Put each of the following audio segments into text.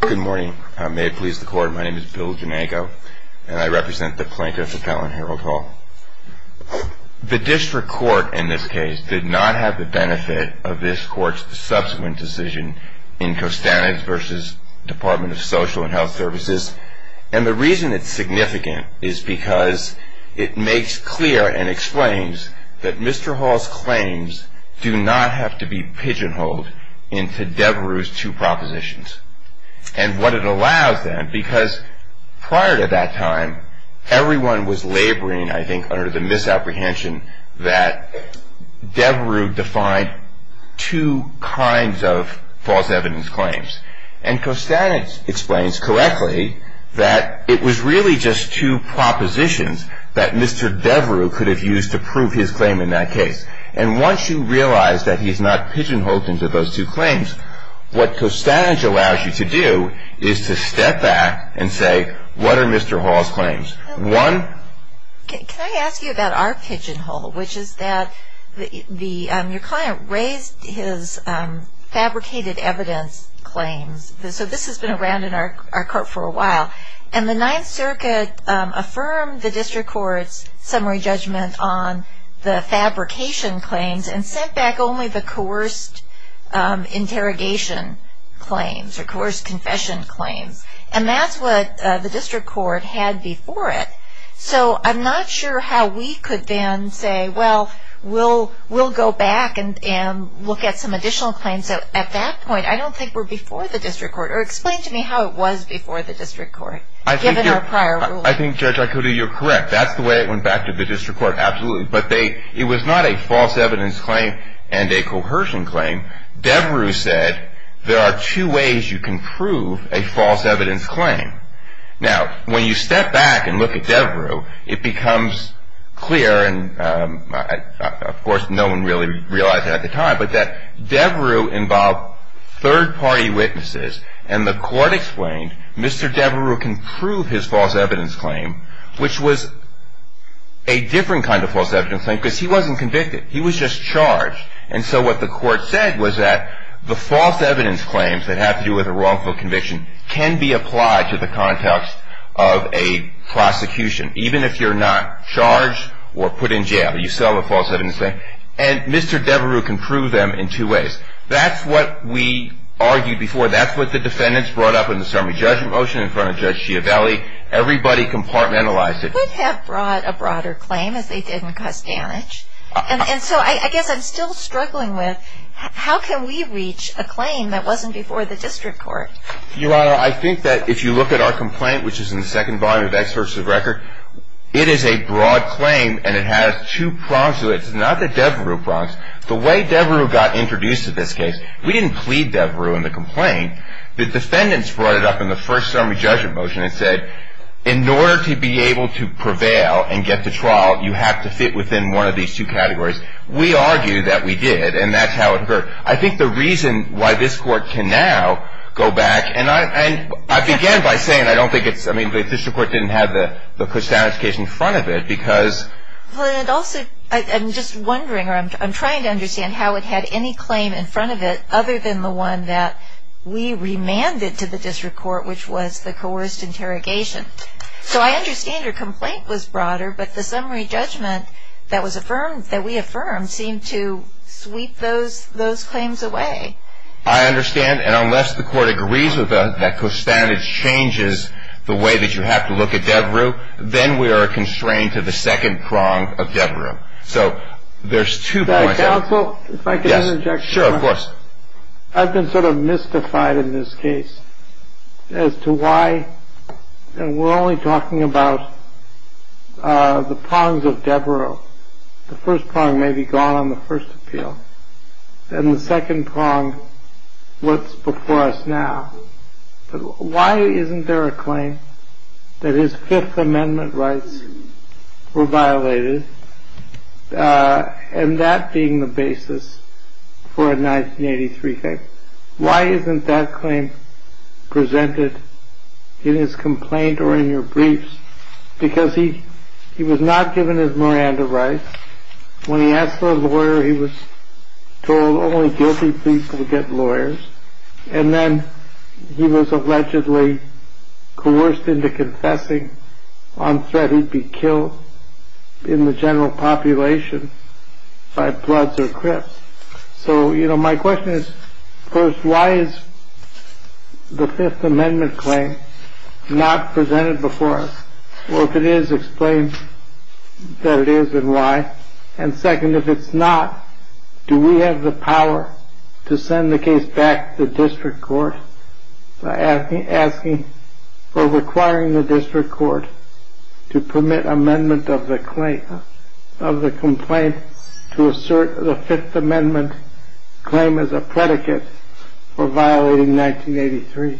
Good morning. May it please the court, my name is Bill Janego, and I represent the plaintiff Appellant Harold Hall. The district court in this case did not have the benefit of this court's subsequent decision in Costanez v. Department of Social and Health Services, and the reason it's significant is because it makes clear and explains that Mr. Hall's claims do not have to be pigeonholed into Devereux's two propositions. And what it allows then, because prior to that time, everyone was laboring, I think, under the misapprehension that Devereux defined two kinds of false evidence claims, and Costanez explains correctly that it was really just two propositions that Mr. Devereux could have used to prove his claim in that case. And once you realize that he's not pigeonholed into those two claims, what Costanez allows you to do is to step back and say, what are Mr. Hall's claims? Can I ask you about our pigeonhole, which is that your client raised his fabricated evidence claims, so this has been around in our court for a while, and the Ninth Circuit affirmed the district court's summary judgment on the fabrication claims and sent back only the coerced interrogation claims or coerced confession claims, and that's what the district court had before it. So I'm not sure how we could then say, well, we'll go back and look at some additional claims. At that point, I don't think we're before the district court, or explain to me how it was before the district court, given our prior ruling. I think, Judge Aikode, you're correct. That's the way it went back to the district court, absolutely, but it was not a false evidence claim and a coercion claim. Devereux said there are two ways you can prove a false evidence claim. Now, when you step back and look at Devereux, it becomes clear, and of course no one really realized it at the time, but that Devereux involved third-party witnesses, and the court explained, Mr. Devereux can prove his false evidence claim, which was a different kind of false evidence claim because he wasn't convicted. He was just charged, and so what the court said was that the false evidence claims that have to do with a wrongful conviction can be applied to the context of a prosecution, even if you're not charged or put in jail, you still have a false evidence claim, and Mr. Devereux can prove them in two ways. That's what we argued before. That's what the defendants brought up in the summary judgment motion in front of Judge Schiavelli. Everybody compartmentalized it. They would have brought a broader claim if they didn't cause damage, and so I guess I'm still struggling with how can we reach a claim that wasn't before the district court? Your Honor, I think that if you look at our complaint, which is in the second volume of experts of record, it is a broad claim, and it has two prongs to it. It's not the Devereux prongs. The way Devereux got introduced to this case, we didn't plead Devereux in the complaint. The defendants brought it up in the first summary judgment motion and said, in order to be able to prevail and get to trial, you have to fit within one of these two categories. We argued that we did, and that's how it occurred. I think the reason why this court can now go back, I began by saying I don't think it's, I mean, the district court didn't have the Christiana case in front of it because I'm just wondering, or I'm trying to understand how it had any claim in front of it other than the one that we remanded to the district court, which was the coerced interrogation. So I understand your complaint was broader, but the summary judgment that we affirmed seemed to sweep those claims away. I understand. And unless the court agrees that that co-standard changes the way that you have to look at Devereux, then we are constrained to the second prong of Devereux. So there's two points. Counsel, if I could interject. Sure, of course. I've been sort of mystified in this case as to why, and we're only talking about the prongs of Devereux. The first prong may be gone on the first appeal. And the second prong, what's before us now? Why isn't there a claim that his Fifth Amendment rights were violated? And that being the basis for a 1983 case. Why isn't that claim presented in his complaint or in your briefs? Because he was not given his Miranda rights. When he asked for a lawyer, he was told only guilty people would get lawyers. And then he was allegedly coerced into confessing on threat he'd be killed in the general population by bloods or crips. So, you know, my question is, first, why is the Fifth Amendment claim not presented before us? Well, if it is, explain that it is and why. And second, if it's not, do we have the power to send the case back to the district court by asking or requiring the district court to permit amendment of the complaint to assert the Fifth Amendment claim as a predicate for violating 1983?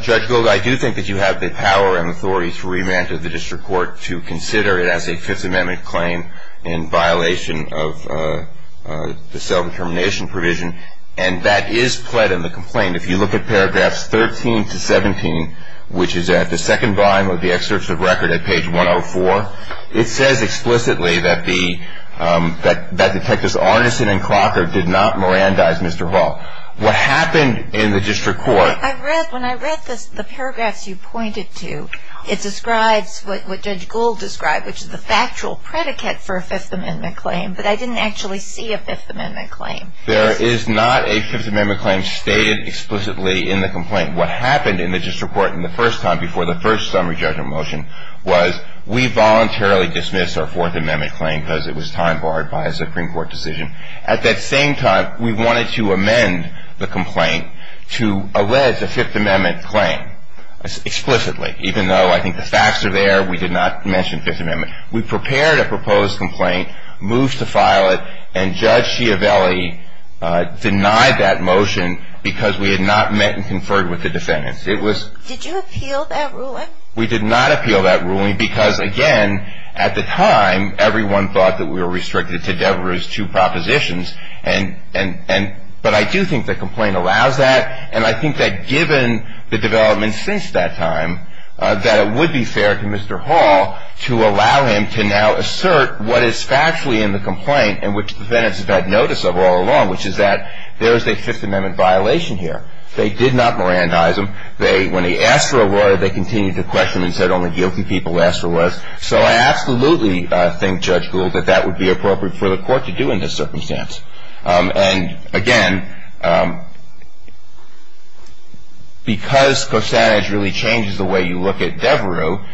Judge Gold, I do think that you have the power and authority to remand to the district court to consider it as a Fifth Amendment claim in violation of the self-determination provision. And that is pled in the complaint. If you look at paragraphs 13 to 17, which is at the second volume of the excerpts of record at page 104, it says explicitly that Detectives Arneson and Clockard did not Mirandize Mr. Hall. What happened in the district court... I read, when I read the paragraphs you pointed to, it describes what Judge Gold described, which is the factual predicate for a Fifth Amendment claim, but I didn't actually see a Fifth Amendment claim. There is not a Fifth Amendment claim stated explicitly in the complaint. What happened in the district court in the first time, before the first summary judgment motion, was we voluntarily dismissed our Fourth Amendment claim because it was time barred by a Supreme Court decision. At that same time, we wanted to amend the complaint to allege a Fifth Amendment claim explicitly, even though I think the facts are there. We did not mention Fifth Amendment. We prepared a proposed complaint, moved to file it, and Judge Schiavelli denied that motion because we had not met and conferred with the defendants. Did you appeal that ruling? We did not appeal that ruling because, again, at the time, everyone thought that we were restricted to Devereux's two propositions, but I do think the complaint allows that, and I think that given the development since that time, that it would be fair to Mr. Hall to allow him to now assert what is factually in the complaint and which the defendants have had notice of all along, which is that there is a Fifth Amendment violation here. They did not Mirandize him. When he asked for a lawyer, they continued to question him and said only guilty people asked for lawyers. So I absolutely think, Judge Gould, that that would be appropriate for the court to do in this circumstance. And, again, because Costanez really changes the way you look at Devereux,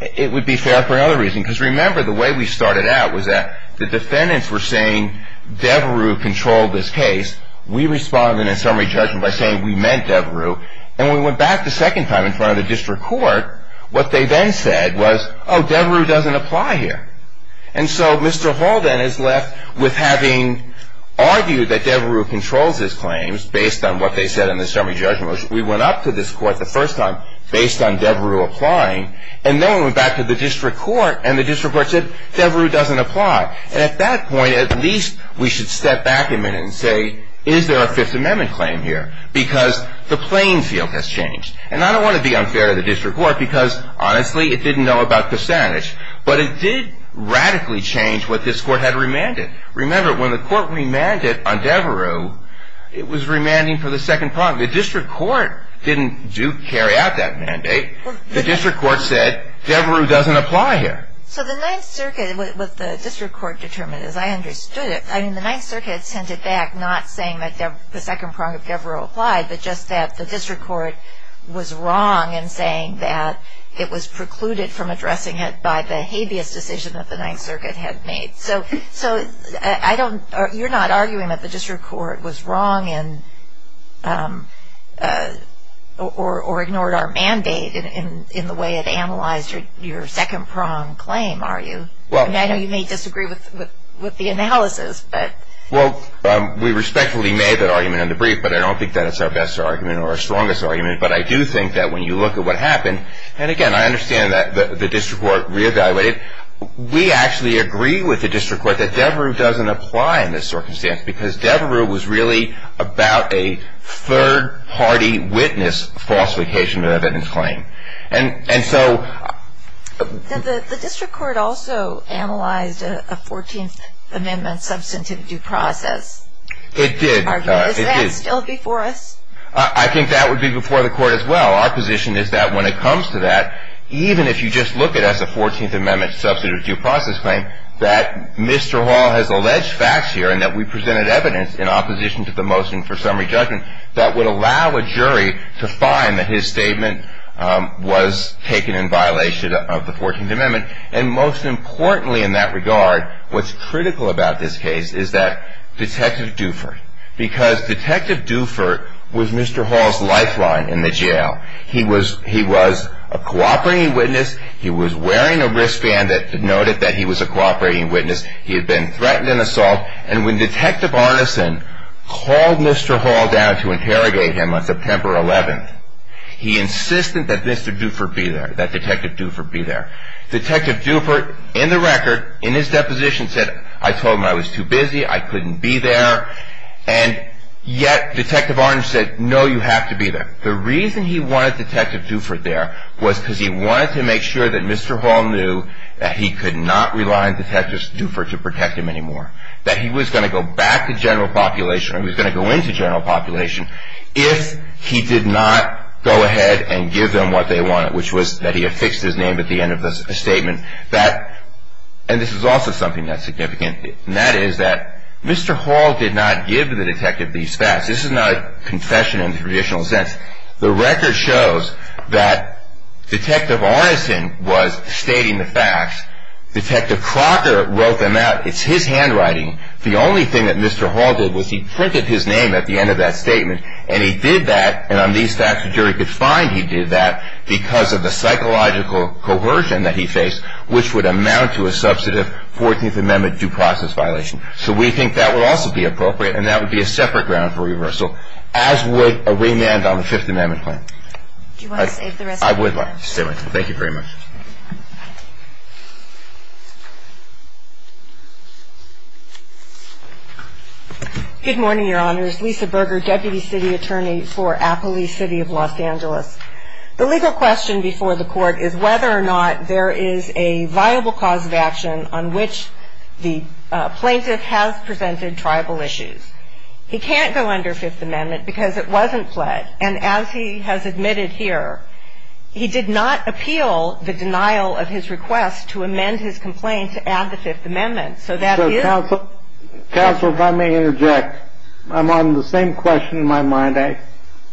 it would be fair for another reason. Because, remember, the way we started out was that the defendants were saying Devereux controlled this case. We responded in a summary judgment by saying we meant Devereux. And when we went back the second time in front of the district court, what they then said was, oh, Devereux doesn't apply here. And so Mr. Hall then is left with having argued that Devereux controls his claims, based on what they said in the summary judgment. We went up to this court the first time based on Devereux applying, and then we went back to the district court and the district court said, Devereux doesn't apply. And at that point, at least we should step back a minute and say, is there a Fifth Amendment claim here? Because the playing field has changed. And I don't want to be unfair to the district court because, honestly, it didn't know about Costanez. But it did radically change what this court had remanded. Remember, when the court remanded on Devereux, it was remanding for the second prong. The district court didn't carry out that mandate. The district court said, Devereux doesn't apply here. So the Ninth Circuit, what the district court determined, as I understood it, I mean, the Ninth Circuit sent it back not saying that the second prong of Devereux applied, but just that the district court was wrong in saying that it was precluded from addressing it by the habeas decision that the Ninth Circuit had made. So you're not arguing that the district court was wrong or ignored our mandate in the way it analyzed your second prong claim, are you? I know you may disagree with the analysis. Well, we respectfully made that argument in the brief, but I don't think that it's our best argument or our strongest argument. But I do think that when you look at what happened, and, again, I understand that the district court reevaluated, we actually agree with the district court that Devereux doesn't apply in this circumstance because Devereux was really about a third-party witness falsification of evidence claim. The district court also analyzed a 14th Amendment substantive due process. It did. Is that still before us? I think that would be before the court as well. Our position is that when it comes to that, even if you just look at us, a 14th Amendment substantive due process claim, that Mr. Hall has alleged facts here and that we presented evidence in opposition to the motion for summary judgment that would allow a jury to find that his statement was taken in violation of the 14th Amendment. And most importantly in that regard, what's critical about this case is that Detective Dufert, because Detective Dufert was Mr. Hall's lifeline in the jail. He was a cooperating witness. He was wearing a wristband that noted that he was a cooperating witness. He had been threatened in assault. And when Detective Arneson called Mr. Hall down to interrogate him on September 11th, he insisted that Mr. Dufert be there, that Detective Dufert be there. Detective Dufert, in the record, in his deposition, said, I told him I was too busy, I couldn't be there. And yet Detective Arneson said, no, you have to be there. The reason he wanted Detective Dufert there was because he wanted to make sure that Mr. Hall knew that he could not rely on Detective Dufert to protect him anymore, that he was going to go back to general population, or he was going to go into general population, if he did not go ahead and give them what they wanted, which was that he affixed his name at the end of the statement. And this is also something that's significant, and that is that Mr. Hall did not give the detective these facts. This is not a confession in the traditional sense. The record shows that Detective Arneson was stating the facts. Detective Crocker wrote them out. It's his handwriting. The only thing that Mr. Hall did was he printed his name at the end of that statement, and he did that, and on these facts a jury could find he did that, because of the psychological coercion that he faced, which would amount to a substantive 14th Amendment due process violation. So we think that would also be appropriate, and that would be a separate ground for reversal, as would a remand on the Fifth Amendment claim. Do you want to save the rest of your time? I would like to save my time. Thank you very much. Good morning, Your Honors. Lisa Berger, Deputy City Attorney for Appalachee City of Los Angeles. The legal question before the Court is whether or not there is a viable cause of action on which the plaintiff has presented tribal issues. He can't go under Fifth Amendment because it wasn't fled, and as he has admitted here, he did not appeal the denial of his request to amend his complaint to add the Fifth Amendment. So that is... Counsel, if I may interject, I'm on the same question in my mind that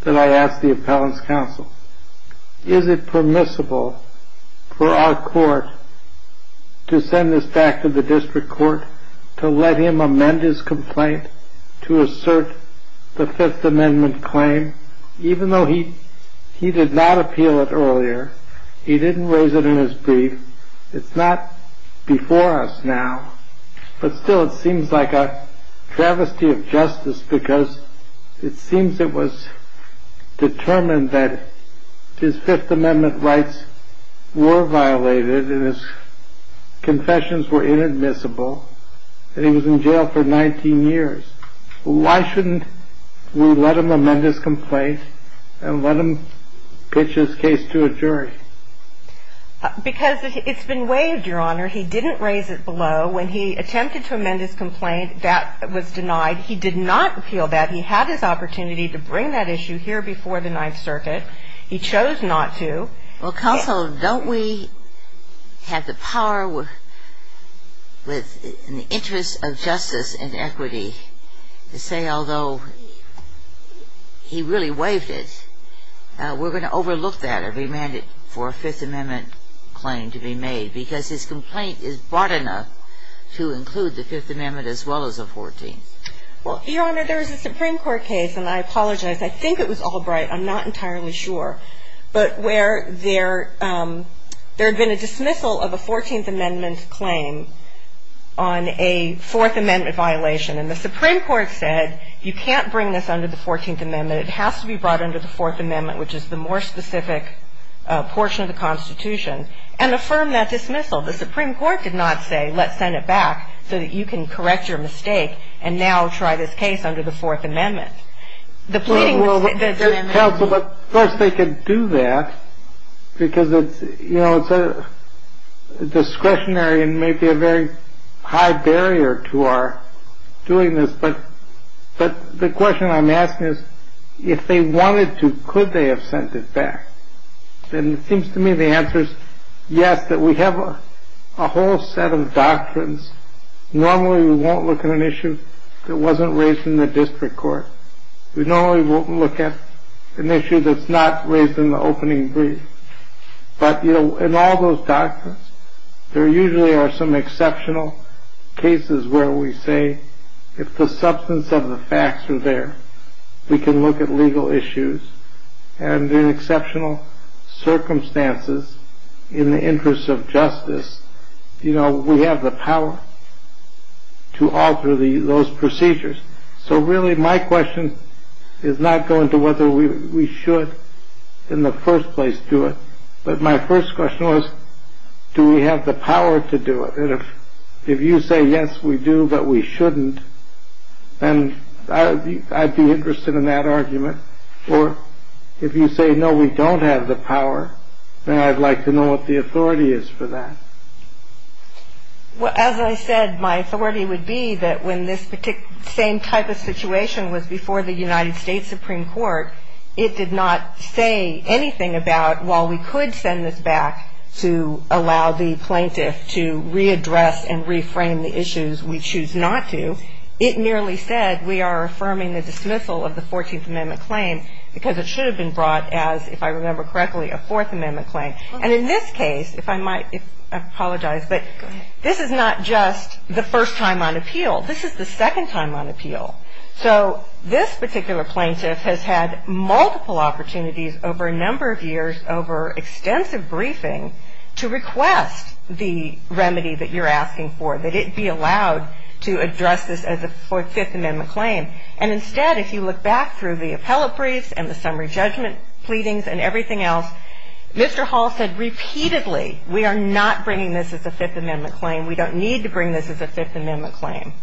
I asked the appellant's counsel. Is it permissible for our court to send this back to the district court to let him amend his complaint to assert the Fifth Amendment claim? Even though he did not appeal it earlier, he didn't raise it in his brief, it's not before us now, but still it seems like a travesty of justice because it seems it was determined that his Fifth Amendment rights were violated and his confessions were inadmissible and he was in jail for 19 years. Why shouldn't we let him amend his complaint and let him pitch his case to a jury? Because it's been waived, Your Honor. He didn't raise it below. When he attempted to amend his complaint, that was denied. He did not appeal that. He had his opportunity to bring that issue here before the Ninth Circuit. He chose not to. Counsel, don't we have the power in the interest of justice and equity to say although he really waived it, we're going to overlook that and remand it for a Fifth Amendment claim to be made because his complaint is broad enough to include the Fifth Amendment as well as the Fourteenth? Well, Your Honor, there is a Supreme Court case, and I apologize. I think it was Albright. I'm not entirely sure. But where there had been a dismissal of a Fourteenth Amendment claim on a Fourth Amendment violation and the Supreme Court said you can't bring this under the Fourteenth Amendment. It has to be brought under the Fourth Amendment, which is the more specific portion of the Constitution, and affirm that dismissal. The Supreme Court did not say let's send it back so that you can correct your mistake and now try this case under the Fourth Amendment. Counsel, but first they could do that because it's discretionary and may be a very high barrier to our doing this. But the question I'm asking is if they wanted to, could they have sent it back? And it seems to me the answer is yes, that we have a whole set of doctrines. Normally we won't look at an issue that wasn't raised in the district court. We normally won't look at an issue that's not raised in the opening brief. But in all those doctrines, there usually are some exceptional cases where we say if the substance of the facts are there, we can look at legal issues. And in exceptional circumstances, in the interest of justice, we have the power to alter those procedures. So really my question is not going to whether we should in the first place do it, but my first question was do we have the power to do it? And if you say yes, we do, but we shouldn't, then I'd be interested in that argument. Or if you say no, we don't have the power, then I'd like to know what the authority is for that. Well, as I said, my authority would be that when this same type of situation was before the United States Supreme Court, it did not say anything about while we could send this back to allow the plaintiff to readdress and reframe the issues we choose not to. It merely said we are affirming the dismissal of the 14th Amendment claim because it should have been brought as, if I remember correctly, a Fourth Amendment claim. And in this case, if I might apologize, but this is not just the first time on appeal. This is the second time on appeal. So this particular plaintiff has had multiple opportunities over a number of years, over extensive briefing, to request the remedy that you're asking for, that it be allowed to address this as a Fifth Amendment claim. And instead, if you look back through the appellate briefs and the summary judgment pleadings and everything else, Mr. Hall said repeatedly, we are not bringing this as a Fifth Amendment claim. We don't need to bring this as a Fifth Amendment claim.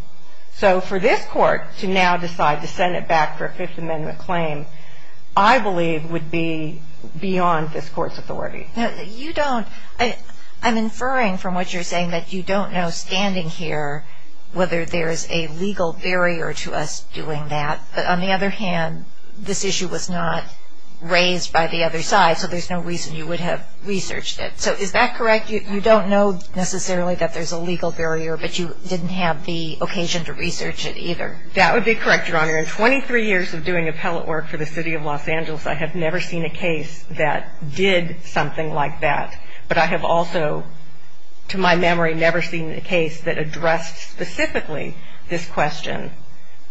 So for this court to now decide to send it back for a Fifth Amendment claim, I believe would be beyond this court's authority. Now, you don't – I'm inferring from what you're saying that you don't know standing here whether there is a legal barrier to us doing that. But on the other hand, this issue was not raised by the other side, so there's no reason you would have researched it. So is that correct? You don't know necessarily that there's a legal barrier, but you didn't have the occasion to research it either? That would be correct, Your Honor. Your Honor, in 23 years of doing appellate work for the City of Los Angeles, I have never seen a case that did something like that. But I have also, to my memory, never seen a case that addressed specifically this question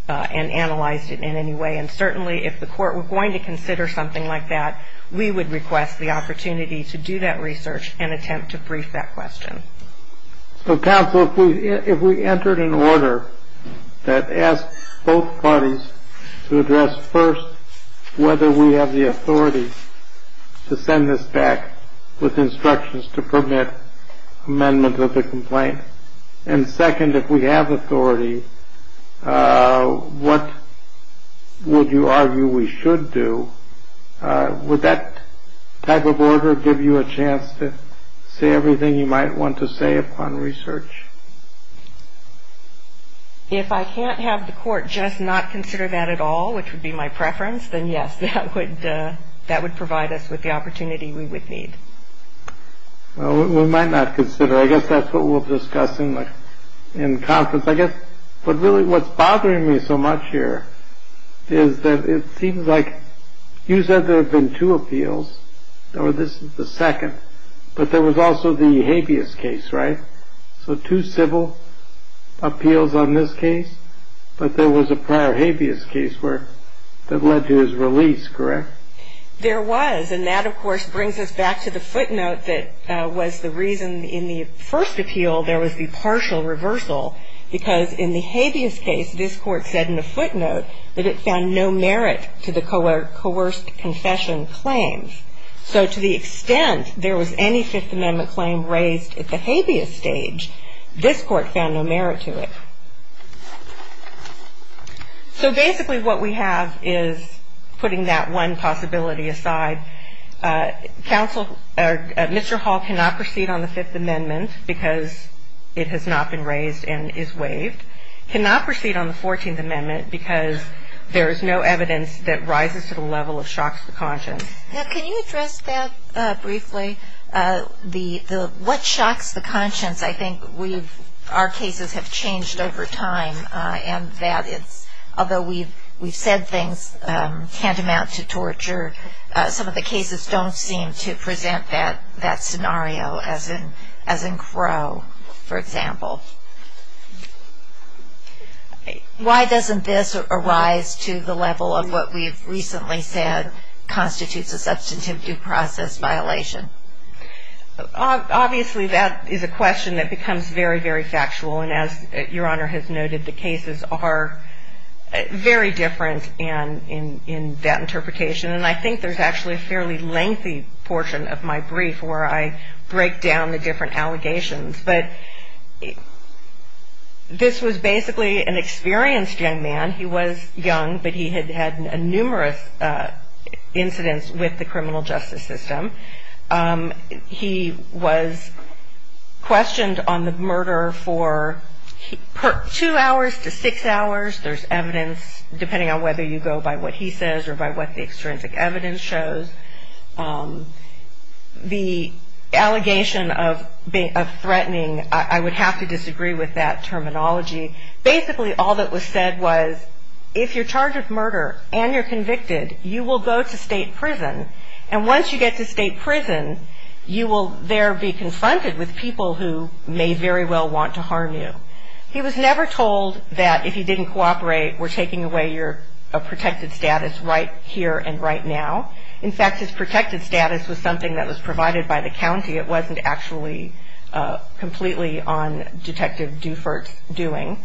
and analyzed it in any way. And certainly if the court were going to consider something like that, we would request the opportunity to do that research and attempt to brief that question. So, counsel, if we entered an order that asked both parties to address, first, whether we have the authority to send this back with instructions to permit amendments of the complaint, and second, if we have authority, what would you argue we should do, would that type of order give you a chance to say everything you might want to say upon research? If I can't have the court just not consider that at all, which would be my preference, then yes, that would provide us with the opportunity we would need. Well, we might not consider it. I guess that's what we'll discuss in conference. I guess what's really bothering me so much here is that it seems like you said there have been two appeals, or this is the second, but there was also the habeas case, right? So two civil appeals on this case, but there was a prior habeas case that led to his release, correct? There was, and that, of course, brings us back to the footnote that was the reason in the first appeal there was the partial reversal, because in the habeas case, this court said in the footnote that it found no merit to the coerced confession claims. So to the extent there was any Fifth Amendment claim raised at the habeas stage, this court found no merit to it. So basically what we have is, putting that one possibility aside, Mr. Hall cannot proceed on the Fifth Amendment because it has not been raised and is waived, cannot proceed on the Fourteenth Amendment because there is no evidence that rises to the level of shocks to conscience. Now, can you address that briefly? What shocks the conscience? I think our cases have changed over time, and that it's, although we've said things tantamount to torture, some of the cases don't seem to present that scenario, as in Crow, for example. Why doesn't this arise to the level of what we've recently said constitutes a substantive due process violation? Obviously, that is a question that becomes very, very factual, and as Your Honor has noted, the cases are very different in that interpretation, and I think there's actually a fairly lengthy portion of my brief where I break down the different allegations. But this was basically an experienced young man. He was young, but he had had numerous incidents with the criminal justice system. He was questioned on the murder for two hours to six hours. There's evidence, depending on whether you go by what he says or by what the extrinsic evidence shows. The allegation of threatening, I would have to disagree with that terminology. Basically, all that was said was if you're charged with murder and you're convicted, you will go to state prison, and once you get to state prison, you will there be confronted with people who may very well want to harm you. He was never told that if he didn't cooperate, we're taking away your protected status right here and right now. In fact, his protected status was something that was provided by the county. It wasn't actually completely on Detective Dufert's doing.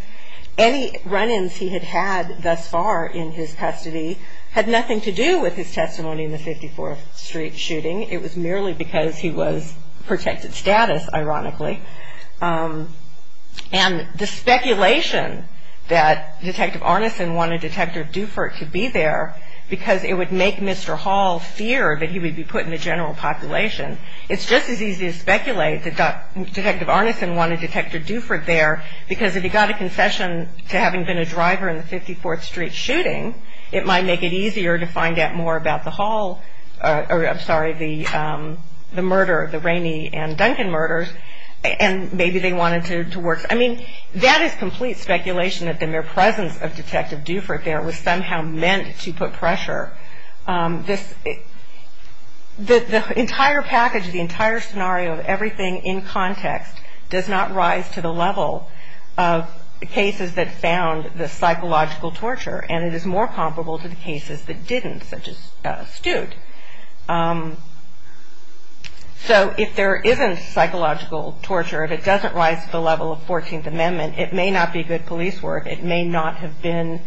Any run-ins he had had thus far in his custody had nothing to do with his testimony in the 54th Street shooting. It was merely because he was protected status, ironically. And the speculation that Detective Arneson wanted Detective Dufert to be there because it would make Mr. Hall fear that he would be put in the general population, it's just as easy to speculate that Detective Arneson wanted Detective Dufert there because if he got a concession to having been a driver in the 54th Street shooting, it might make it easier to find out more about the Hall, I'm sorry, the murder, the Ramey and Duncan murders, and maybe they wanted to work. I mean, that is complete speculation that the mere presence of Detective Dufert there was somehow meant to put pressure. The entire package, the entire scenario of everything in context does not rise to the level of cases that found the psychological torture, and it is more comparable to the cases that didn't, such as Stute. So if there isn't psychological torture, if it doesn't rise to the level of 14th Amendment, it may not be good police work, it may not have been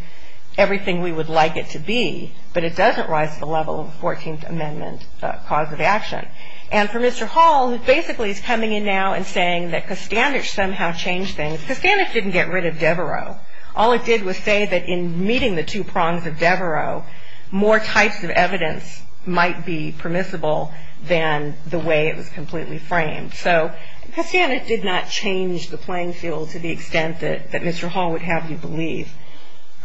everything we would like it to be, but it doesn't rise to the level of 14th Amendment cause of action. And for Mr. Hall, who basically is coming in now and saying that Kostanich somehow changed things, Kostanich didn't get rid of Devereaux. All it did was say that in meeting the two prongs of Devereaux, more types of evidence might be permissible than the way it was completely framed. So Kostanich did not change the playing field to the extent that Mr. Hall would have you believe,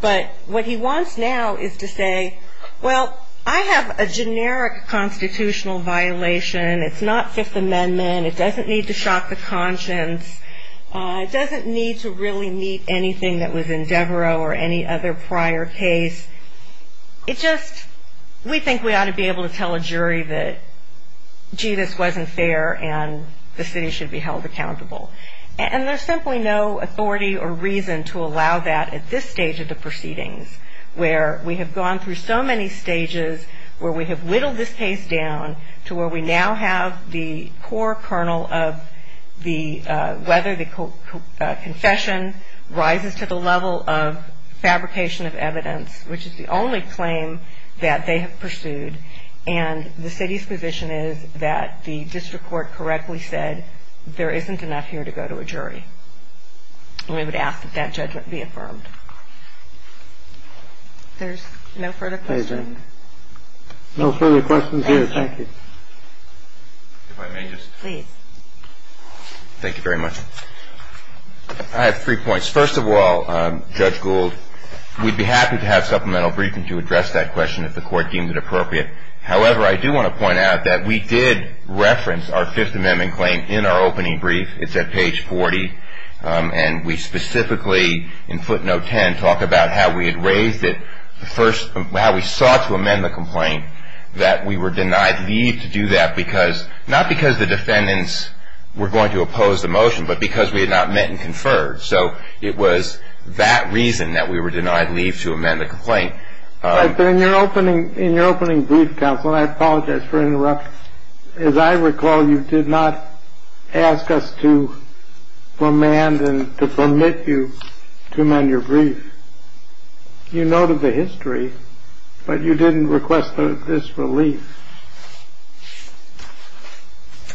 but what he wants now is to say, well, I have a generic constitutional violation. It's not Fifth Amendment. It doesn't need to shock the conscience. It doesn't need to really meet anything that was in Devereaux or any other prior case. It just, we think we ought to be able to tell a jury that, gee, this wasn't fair, and the city should be held accountable. And there's simply no authority or reason to allow that at this stage of the proceedings, where we have gone through so many stages where we have whittled this case down to where we now have the core kernel of whether the confession rises to the level of fabrication of evidence, which is the only claim that they have pursued. And the city's position is that the district court correctly said there isn't enough here to go to a jury. And we would ask that that judgment be affirmed. There's no further questions. No further questions here. Thank you. If I may just. Please. Thank you very much. I have three points. First of all, Judge Gould, we'd be happy to have supplemental briefing to address that question if the court deems it appropriate. However, I do want to point out that we did reference our Fifth Amendment claim in our opening brief. It's at page 40. And we specifically, in footnote 10, talk about how we had raised it the first, how we sought to amend the complaint, that we were denied leave to do that because, not because the defendants were going to oppose the motion, but because we had not met and conferred. So it was that reason that we were denied leave to amend the complaint. But in your opening brief, counsel, and I apologize for interrupting, as I recall you did not ask us to amend and to permit you to amend your brief. You noted the history, but you didn't request this relief.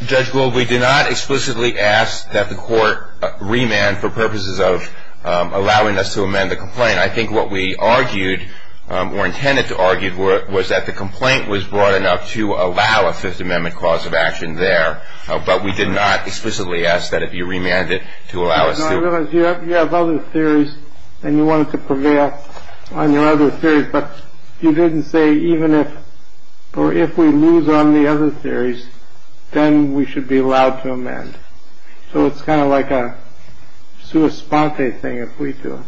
Judge Gould, we did not explicitly ask that the court remand for purposes of allowing us to amend the complaint. I think what we argued, or intended to argue, was that the complaint was broad enough to allow a Fifth Amendment cause of action there, but we did not explicitly ask that it be remanded to allow us to. I realize you have other theories and you wanted to prevail on your other theories, but you didn't say even if, or if we lose on the other theories, then we should be allowed to amend. So it's kind of like a sua sponte thing if we do.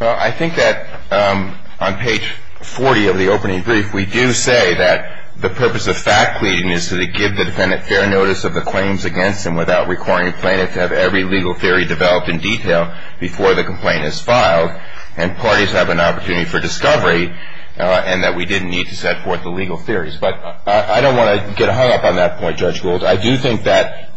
Well, I think that on page 40 of the opening brief, we do say that the purpose of fact pleading is to give the defendant fair notice of the claims against him and parties have an opportunity for discovery and that we didn't need to set forth the legal theories. But I don't want to get hung up on that point, Judge Gould. I do think that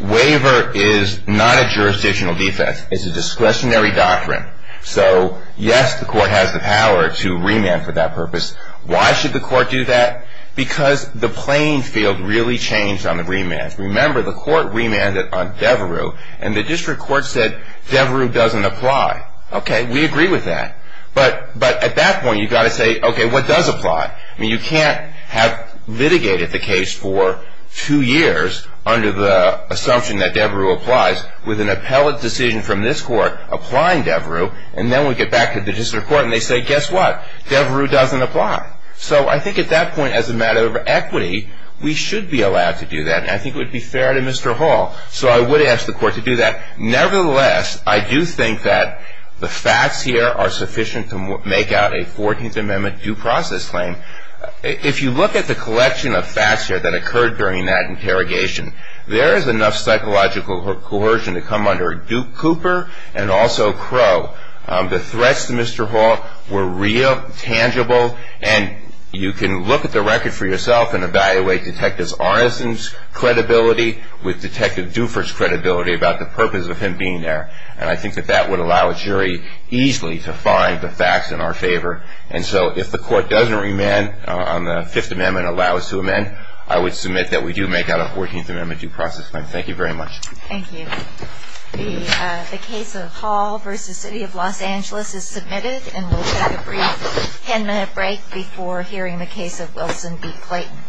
waiver is not a jurisdictional defense. It's a discretionary doctrine. So yes, the court has the power to remand for that purpose. Why should the court do that? Because the playing field really changed on the remand. Remember, the court remanded on Devereux, and the district court said Devereux doesn't apply. Okay, we agree with that. But at that point, you've got to say, okay, what does apply? I mean, you can't have litigated the case for two years under the assumption that Devereux applies with an appellate decision from this court applying Devereux, and then we get back to the district court and they say, guess what? Devereux doesn't apply. So I think at that point, as a matter of equity, we should be allowed to do that, and I think it would be fair to Mr. Hall. So I would ask the court to do that. Nevertheless, I do think that the facts here are sufficient to make out a 14th Amendment due process claim. If you look at the collection of facts here that occurred during that interrogation, there is enough psychological coercion to come under Duke Cooper and also Crow. The threats to Mr. Hall were real, tangible, and you can look at the record for yourself and evaluate Detective Morrison's credibility with Detective Dufour's credibility about the purpose of him being there. And I think that that would allow a jury easily to find the facts in our favor. And so if the court doesn't remand on the Fifth Amendment and allow us to amend, I would submit that we do make out a 14th Amendment due process claim. Thank you very much. Thank you. The case of Hall v. City of Los Angeles is submitted, and we'll take a brief 10-minute break before hearing the case of Wilson v. Clayton.